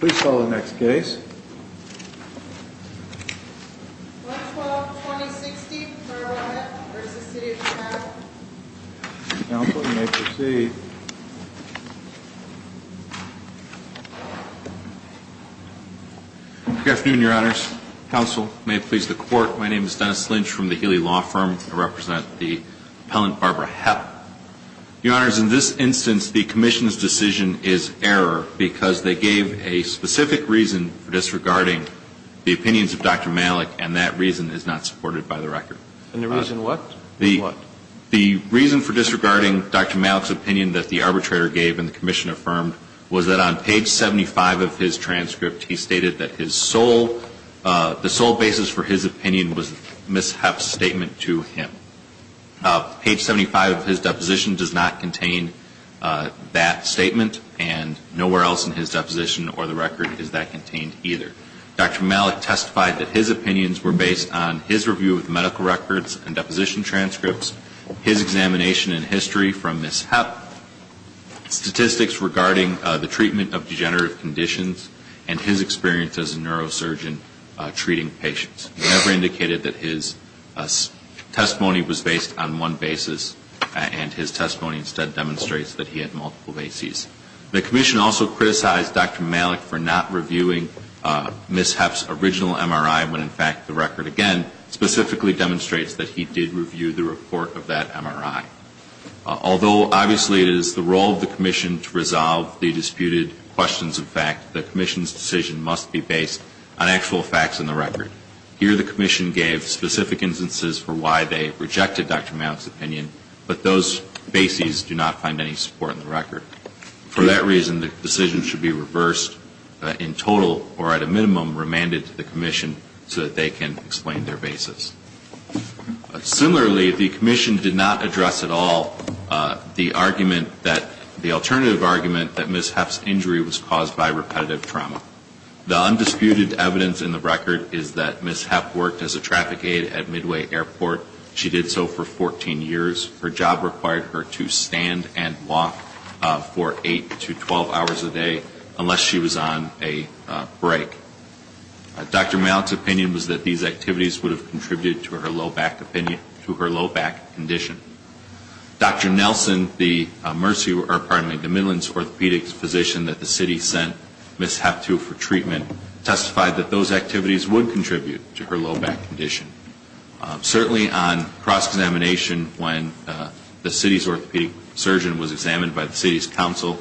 Please call the next case. 112-2060, Barbara Hepp v. City of Chicago. Counsel, you may proceed. Good afternoon, Your Honors. Counsel, may it please the Court, my name is Dennis Lynch from the Healy Law Firm. I represent the appellant, Barbara Hepp. Your Honors, in this instance, the Commission's decision is error because they gave a specific reason for disregarding the opinions of Dr. Malik, and that reason is not supported by the record. And the reason what? The reason for disregarding Dr. Malik's opinion that the arbitrator gave and the Commission affirmed was that on page 75 of his transcript, he stated that the sole basis for his opinion was Ms. Hepp's statement to him. Page 75 of his deposition does not contain that statement, and nowhere else in his deposition or the record is that contained either. Dr. Malik testified that his opinions were based on his review of medical records and deposition transcripts, his examination and history from Ms. Hepp, statistics regarding the treatment of degenerative conditions, and his experience as a neurosurgeon treating patients. He never indicated that his testimony was based on one basis, and his testimony instead demonstrates that he had multiple bases. The Commission also criticized Dr. Malik for not reviewing Ms. Hepp's original MRI when, in fact, the record again specifically demonstrates that he did review the report of that MRI. Although, obviously, it is the role of the Commission to resolve the disputed questions of fact, the Commission's decision must be based on actual facts in the record. Here, the Commission gave specific instances for why they rejected Dr. Malik's opinion, but those bases do not find any support in the record. For that reason, the decision should be reversed in total or at a minimum remanded to the Commission so that they can explain their bases. Similarly, the Commission did not address at all the argument that the alternative argument that Ms. Hepp's injury was caused by repetitive trauma. The undisputed evidence in the record is that Ms. Hepp worked as a traffic aid at Midway Airport. She did so for 14 years. Her job required her to stand and walk for 8 to 12 hours a day unless she was on a break. Dr. Malik's opinion was that these activities would have contributed to her low back condition. Dr. Nelson, the Midlands orthopedic physician that the city sent Ms. Hepp to for treatment, testified that those activities would contribute to her low back condition. Certainly on cross-examination when the city's orthopedic surgeon was examined by the city's council,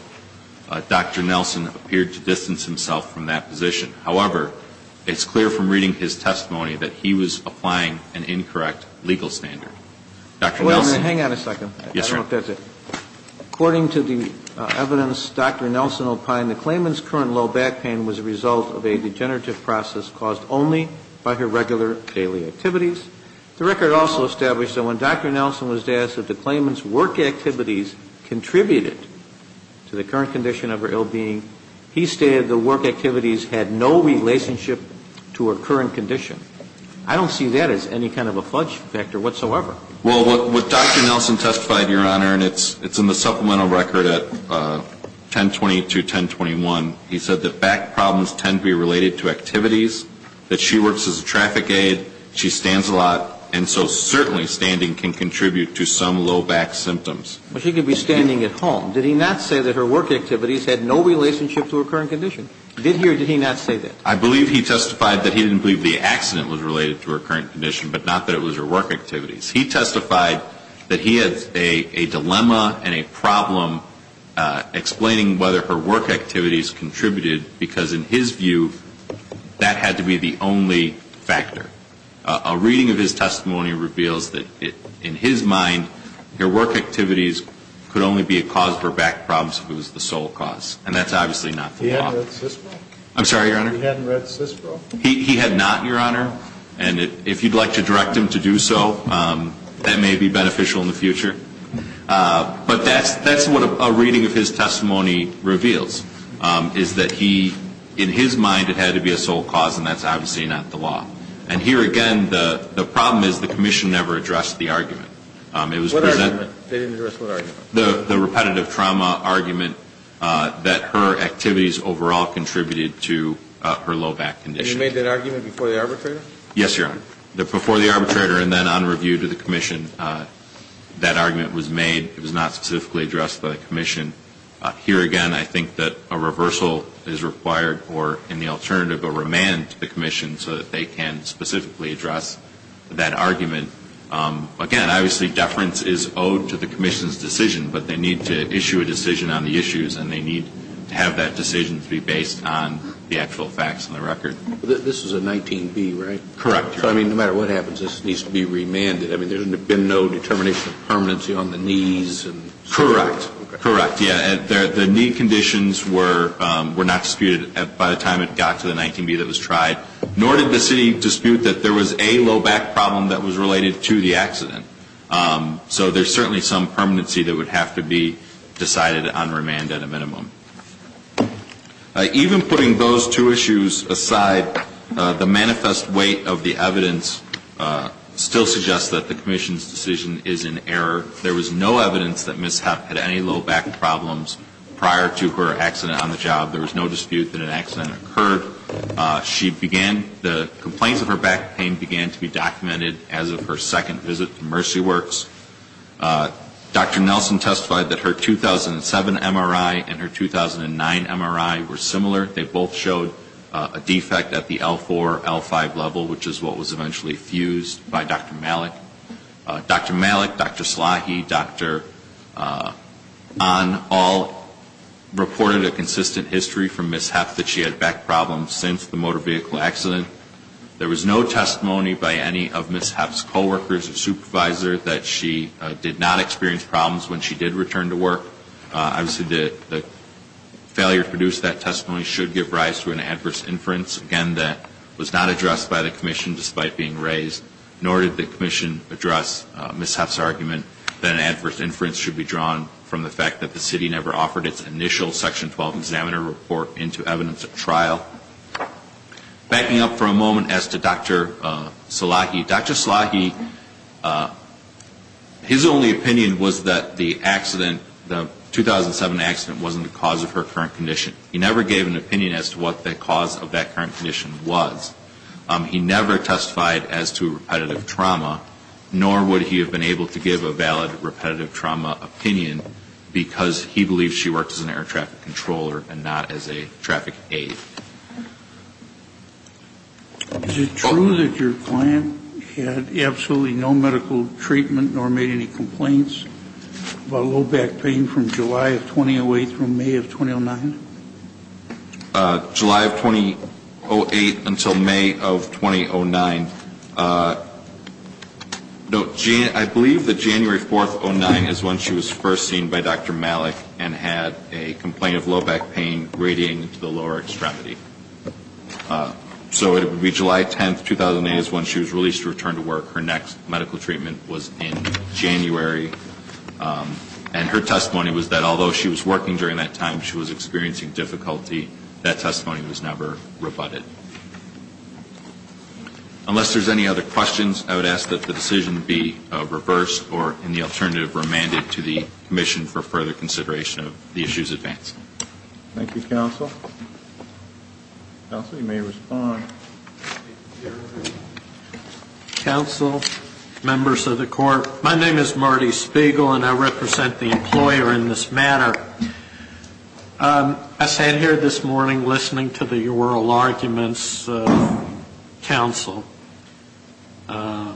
Dr. Nelson appeared to distance himself from that position. However, it's clear from reading his testimony that he was applying an incorrect legal standard. Dr. Nelson. Hang on a second. Yes, sir. According to the evidence Dr. Nelson opined, the claimant's current low back pain was a result of a degenerative process caused only by her regular daily activities. The record also established that when Dr. Nelson was asked if the claimant's work activities contributed to the current condition of her ill being, he stated the work activities had no relationship to her current condition. I don't see that as any kind of a fudge factor whatsoever. Well, what Dr. Nelson testified, Your Honor, and it's in the supplemental record at 1020 to 1021, he said that back problems tend to be related to activities, that she works as a traffic aid, she stands a lot, and so certainly standing can contribute to some low back symptoms. Well, she could be standing at home. Did he not say that her work activities had no relationship to her current condition? Did he or did he not say that? I believe he testified that he didn't believe the accident was related to her current condition, but not that it was her work activities. He testified that he had a dilemma and a problem explaining whether her work activities contributed because in his view that had to be the only factor. A reading of his testimony reveals that in his mind her work activities could only be a cause for back problems if it was the sole cause, and that's obviously not the law. He hadn't read CISPRO? I'm sorry, Your Honor? He hadn't read CISPRO? He had not, Your Honor, and if you'd like to direct him to do so, that may be beneficial in the future. But that's what a reading of his testimony reveals, is that in his mind it had to be a sole cause, and that's obviously not the law. And here again the problem is the commission never addressed the argument. What argument? They didn't address what argument? The repetitive trauma argument that her activities overall contributed to her low back condition. And you made that argument before the arbitrator? Yes, Your Honor. Before the arbitrator and then on review to the commission that argument was made. It was not specifically addressed to the commission. Here again I think that a reversal is required or in the alternative a remand to the commission so that they can specifically address that argument. Again, obviously deference is owed to the commission's decision, but they need to issue a decision on the issues, and they need to have that decision to be based on the actual facts on the record. This is a 19B, right? Correct, Your Honor. So, I mean, no matter what happens, this needs to be remanded. I mean, there's been no determination of permanency on the knees? Correct. Correct, yeah. The knee conditions were not disputed by the time it got to the 19B that was tried, nor did the city dispute that there was a low back problem that was related to the accident. So there's certainly some permanency that would have to be decided on remand at a minimum. Even putting those two issues aside, the manifest weight of the evidence still suggests that the commission's decision is in error. There was no evidence that Ms. Hepp had any low back problems prior to her accident on the job. There was no dispute that an accident occurred. She began the complaints of her back pain began to be documented as of her second visit to Mercy Works. Dr. Nelson testified that her 2007 MRI and her 2009 MRI were similar. They both showed a defect at the L4, L5 level, which is what was eventually fused by Dr. Malik. Dr. Malik, Dr. Slahi, Dr. Ahn all reported a consistent history from Ms. Hepp that she had back problems since the motor vehicle accident. There was no testimony by any of Ms. Hepp's coworkers or supervisor that she did not experience problems when she did return to work. Obviously, the failure to produce that testimony should give rise to an adverse inference, again, that was not addressed by the commission despite being raised, nor did the commission address Ms. Hepp's argument that an adverse inference should be drawn from the fact that the city never offered its initial section 12 examiner report into evidence at trial. Backing up for a moment as to Dr. Slahi, Dr. Slahi, his only opinion was that the accident, the 2007 accident wasn't the cause of her current condition. He never gave an opinion as to what the cause of that current condition was. He never testified as to repetitive trauma, nor would he have been able to give a valid repetitive trauma opinion because he believed she worked as an air traffic controller and not as a traffic aid. Is it true that your client had absolutely no medical treatment nor made any complaints about low back pain from July of 2008 through May of 2009? July of 2008 until May of 2009. I believe that January 4th, 2009 is when she was first seen by Dr. Malik and had a complaint of low back pain radiating to the lower extremity. So it would be July 10th, 2008 is when she was released to return to work. Her next medical treatment was in January. And her testimony was that although she was working during that time, she was experiencing difficulty. That testimony was never rebutted. Unless there's any other questions, I would ask that the decision be reversed or in the alternative remanded to the Commission for further consideration of the issues advanced. Thank you, Counsel. Counsel, you may respond. Counsel, members of the Court, my name is Marty Spiegel, and I represent the employer in this matter. I sat here this morning listening to the oral arguments of counsel. I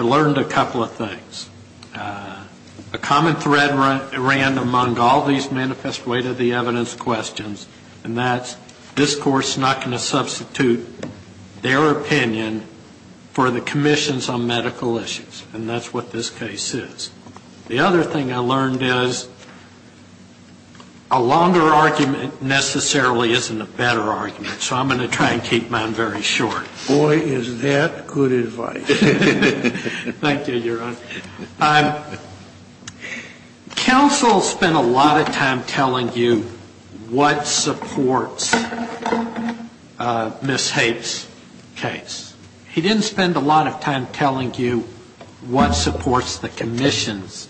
learned a couple of things. A common thread ran among all these manifest way to the evidence questions, and that's this Court's not going to substitute their opinion for the Commission's on medical issues. And that's what this case is. The other thing I learned is a longer argument necessarily isn't a better argument. So I'm going to try and keep mine very short. Boy, is that good advice. Thank you, Your Honor. Counsel spent a lot of time telling you what supports Ms. Hape's case. He didn't spend a lot of time telling you what supports the Commission's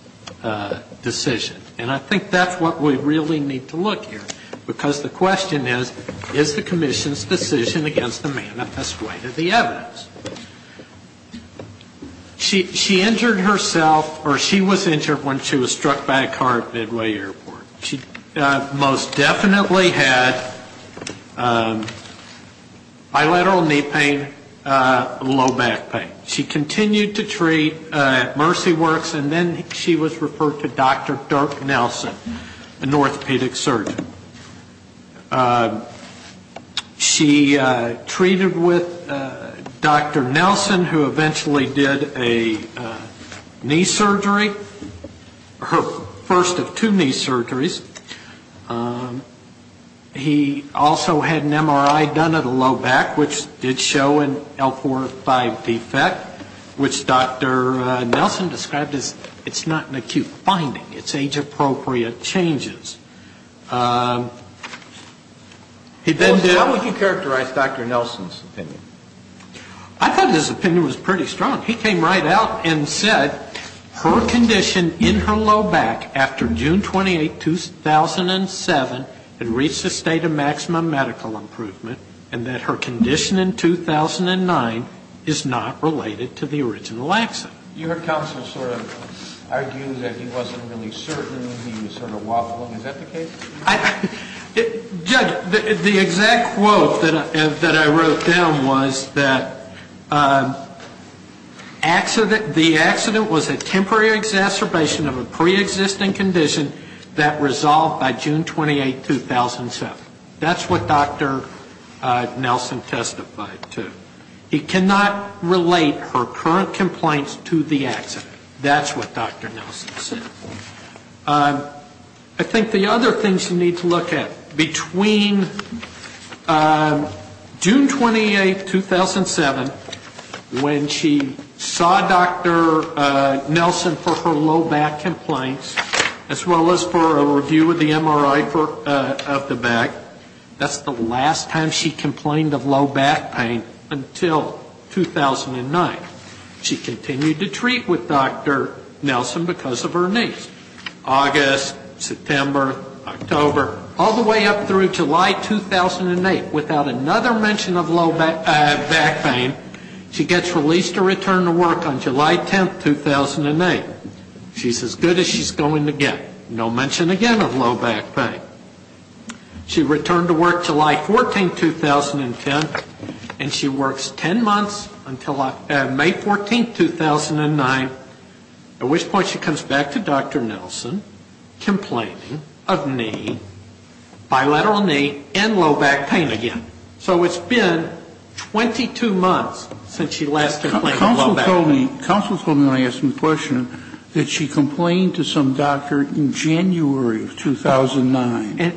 decision. And I think that's what we really need to look here. Because the question is, is the Commission's decision against the manifest way to the evidence? She injured herself, or she was injured when she was struck by a car at Midway Airport. She most definitely had bilateral knee pain, low back pain. She continued to treat at Mercy Works, and then she was referred to Dr. Dirk Nelson, an orthopedic surgeon. She treated with Dr. Nelson, who eventually did a knee surgery. Her first of two knee surgeries. He also had an MRI done of the low back, which did show an L45 defect, which Dr. Nelson described as it's not an acute finding, it's age-appropriate changes. Then how would you characterize Dr. Nelson's opinion? I thought his opinion was pretty strong. He came right out and said her condition in her low back after June 28, 2007, had reached a state of maximum medical improvement, and that her condition in 2009 is not related to the original accident. Your counsel sort of argues that he wasn't really certain, he was sort of wobbling. Is that the case? Judge, the exact quote that I wrote down was that the accident was a temporary exacerbation of a preexisting condition that resolved by June 28, 2007. That's what Dr. Nelson testified to. It cannot relate her current complaints to the accident. That's what Dr. Nelson said. I think the other things you need to look at, between June 28, 2007, when she saw Dr. Nelson for her low back complaints, as well as for a review of the MRI of the back, that's the last time she complained of low back pain until 2009. She continued to treat with Dr. Nelson because of her needs. August, September, October, all the way up through July 2008, without another mention of low back pain, she gets released to return to work on July 10, 2008. She's as good as she's going to get. No mention again of low back pain. She returned to work July 14, 2010, and she works ten months until May 14, 2009, at which point she comes back to Dr. Nelson complaining of knee, bilateral knee, and low back pain again. So it's been 22 months since she last complained of low back pain. Counsel told me when I asked him the question that she complained to some doctor in January of 2009. Was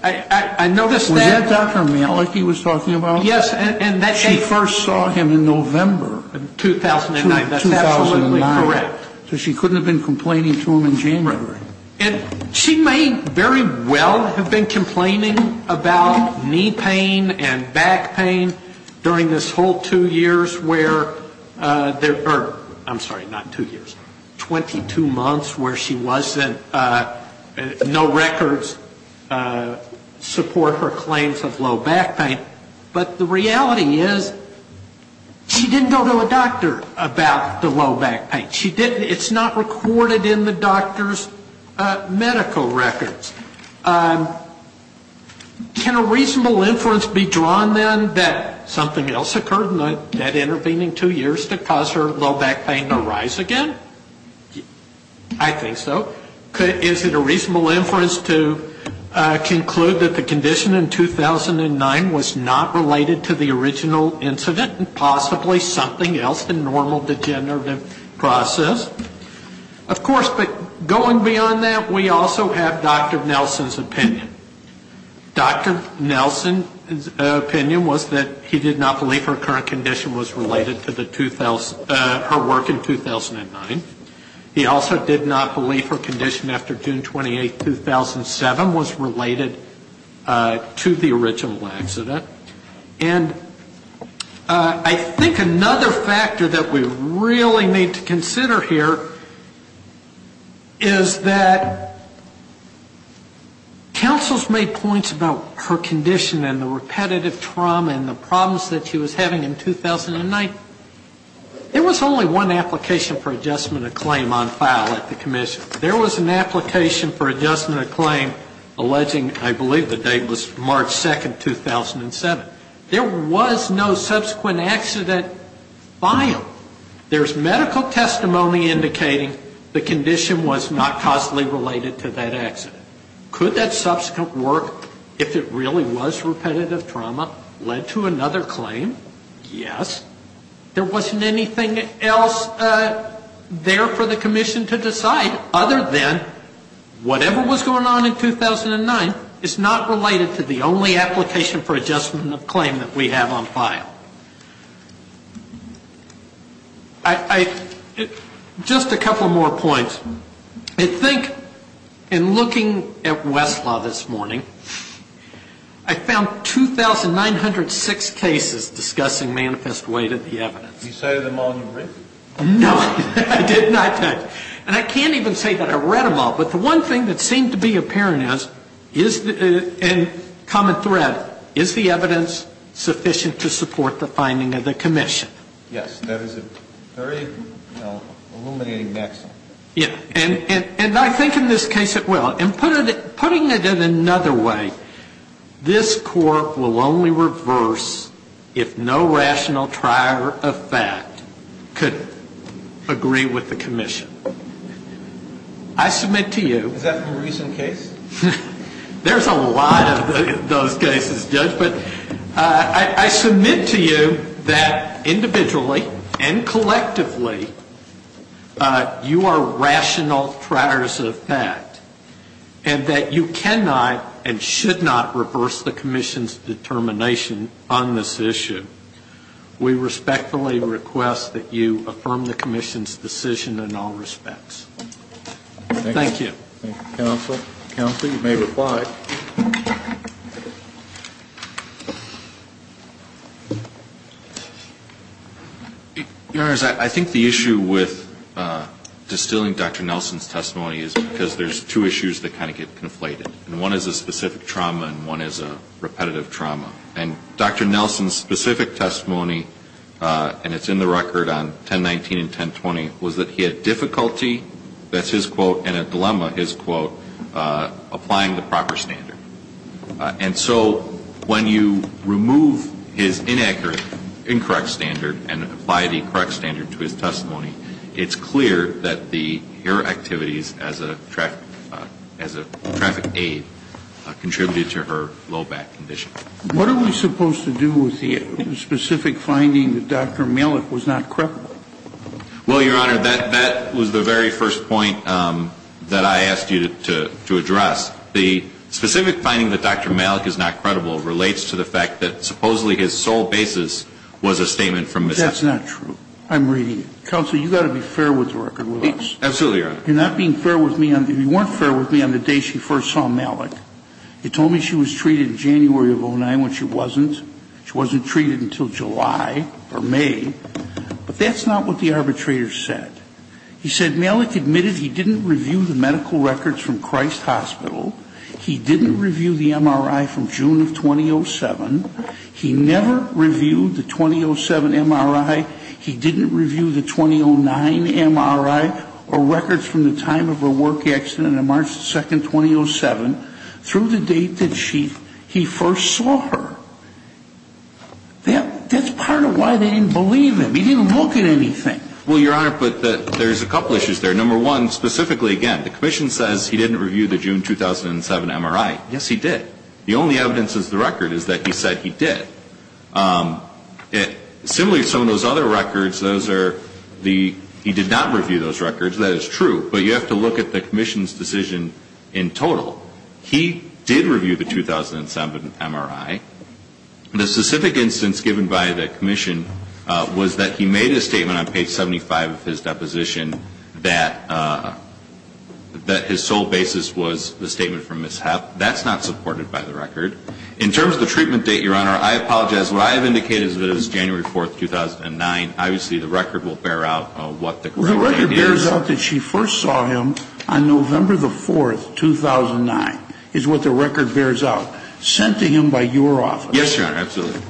that Dr. Malachy he was talking about? She first saw him in November of 2009. So she couldn't have been complaining to him in January. And she may very well have been complaining about knee pain and back pain during this whole two years where, or I'm sorry, not two years, 22 months where she wasn't, no records of knee pain. And I'm not saying that the doctors support her claims of low back pain, but the reality is she didn't go to a doctor about the low back pain. It's not recorded in the doctor's medical records. Can a reasonable inference be drawn, then, that something else occurred in that intervening two years to cause her low back pain to rise again? I think so. Is it a reasonable inference to conclude that the condition in 2009 was not related to the original incident and possibly something else, a normal degenerative process? Of course, but going beyond that, we also have Dr. Nelson's opinion. Dr. Nelson's opinion was that he did not believe her current condition was related to her work in 2009. He also did not believe her condition after June 28, 2007 was related to the original accident. And I think another factor that we really need to consider here is that counsels made points about her condition and the repetitive trauma and the problems that she was having in 2009. There was only one application for adjustment of claim on file at the commission. There was an application for adjustment of claim alleging I believe the date was March 2, 2007. There was no subsequent accident filed. There's medical testimony indicating the condition was not causally related to that accident. Could that subsequent work, if it really was repetitive trauma, led to another claim? Yes. There wasn't anything else there for the commission to decide other than whatever was going on in 2009 is not related to the only application for adjustment of claim that we have on file. Just a couple more points. I think in looking at Westlaw this morning, I found 2,906 cases discussing manifest weight at the accident. And I think it's important to understand that the evidence that's been presented in the case is not the evidence that's been read. It's the evidence that's been written. You cited them all in your brief? No, I did not. And I can't even say that I read them all. But the one thing that seemed to be apparent is, and common thread, is the evidence sufficient to support the finding of the commission? Yes. And I think in this case it will. And putting it in another way, this Court will only reverse if no rational trier of fact could agree with the commission. I submit to you Is that from a recent case? There's a lot of those cases, Judge. But I submit to you that individually and collectively, you are rational triers of fact. And that you cannot and should not reverse the commission's determination on this issue. We respectfully request that you affirm the commission's decision in all respects. Thank you. Your Honors, I think the issue with distilling Dr. Nelson's testimony is because there's two issues that kind of get conflated. And one is a specific trauma and one is a repetitive trauma. And Dr. Nelson's specific testimony, and it's in the record on 1019 and 1020, was that he had difficulty, that's his quote, and a dilemma, his quote, applying the proper standard. And so when you remove his inaccurate, incorrect standard and apply the correct standard to his testimony, it's clear that your activities as a traffic aid contributed to her low back condition. What are we supposed to do with the specific finding that Dr. Malik was not crippled? Well, Your Honor, that was the very first point that I asked you to address. The specific finding that Dr. Malik is not crippled relates to the fact that supposedly his sole basis was a statement from Ms. Nelson. That's not true. I'm reading it. Counsel, you've got to be fair with the record with us. Absolutely, Your Honor. You're not being fair with me on, you weren't fair with me on the day she first saw Malik. You told me she was treated in January of 09, when she wasn't. She wasn't treated until July or May. But that's not what the arbitrator said. He said Malik admitted he didn't review the medical records from Christ Hospital. He didn't review the MRI from June of 2007. He never reviewed the 2007 MRI. He didn't review the 2009 MRI or records from the time of her work accident on March 2, 2007 through the date that he first saw her. That's part of why they didn't believe him. He didn't look at anything. Well, Your Honor, but there's a couple issues there. Number one, specifically again, the commission says he didn't review the June 2007 MRI. Yes, he did. The only evidence is the record is that he said he did. Similarly, some of those other records, those are the, he did not review those records. That is true, but you have to look at the commission's decision in total. He did review the 2007 MRI. The specific instance given by the commission was that he made a statement on page 75 of his deposition that his sole basis was the statement from Ms. Hepp. That's not supported by the record. In terms of the treatment date, Your Honor, I apologize. What I have indicated is that it was January 4, 2009. Obviously, the record will bear out what the correct date is. The record bears out that she first saw him on November 4, 2009 is what the record bears out. Sent to him by your office. Yes, Your Honor, absolutely.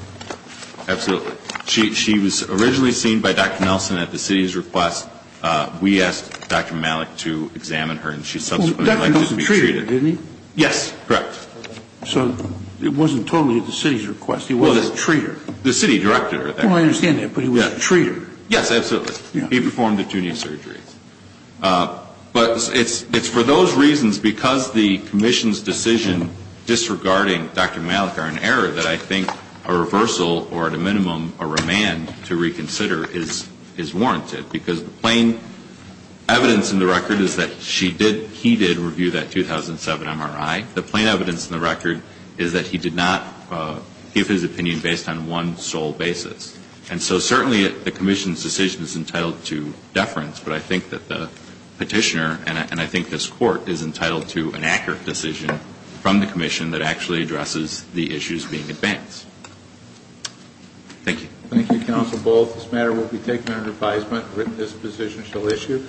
Absolutely. She was originally seen by Dr. Nelson at the city's request. We asked Dr. Malik to examine her and she subsequently was treated. Yes, correct. So it wasn't totally at the city's request. He wasn't a treater. The city directed her. I understand that, but he was a treater. Yes, absolutely. He performed the two knee surgeries. But it's for those reasons, because the commission's decision disregarding Dr. Malik are in error, that I think a reversal or at a minimum a remand to reconsider is warranted. Because the plain evidence in the record is that she did, he did review that 2007 MRI. The plain evidence in the record is that he did not give his opinion based on one sole basis. And so certainly the commission's decision is entitled to deference, but I think that the petitioner and I think this court is entitled to an accurate decision from the commission that actually addresses the issues being advanced. Thank you. Thank you, Counsel Bull. This matter will be taken under advisement. This position shall issue.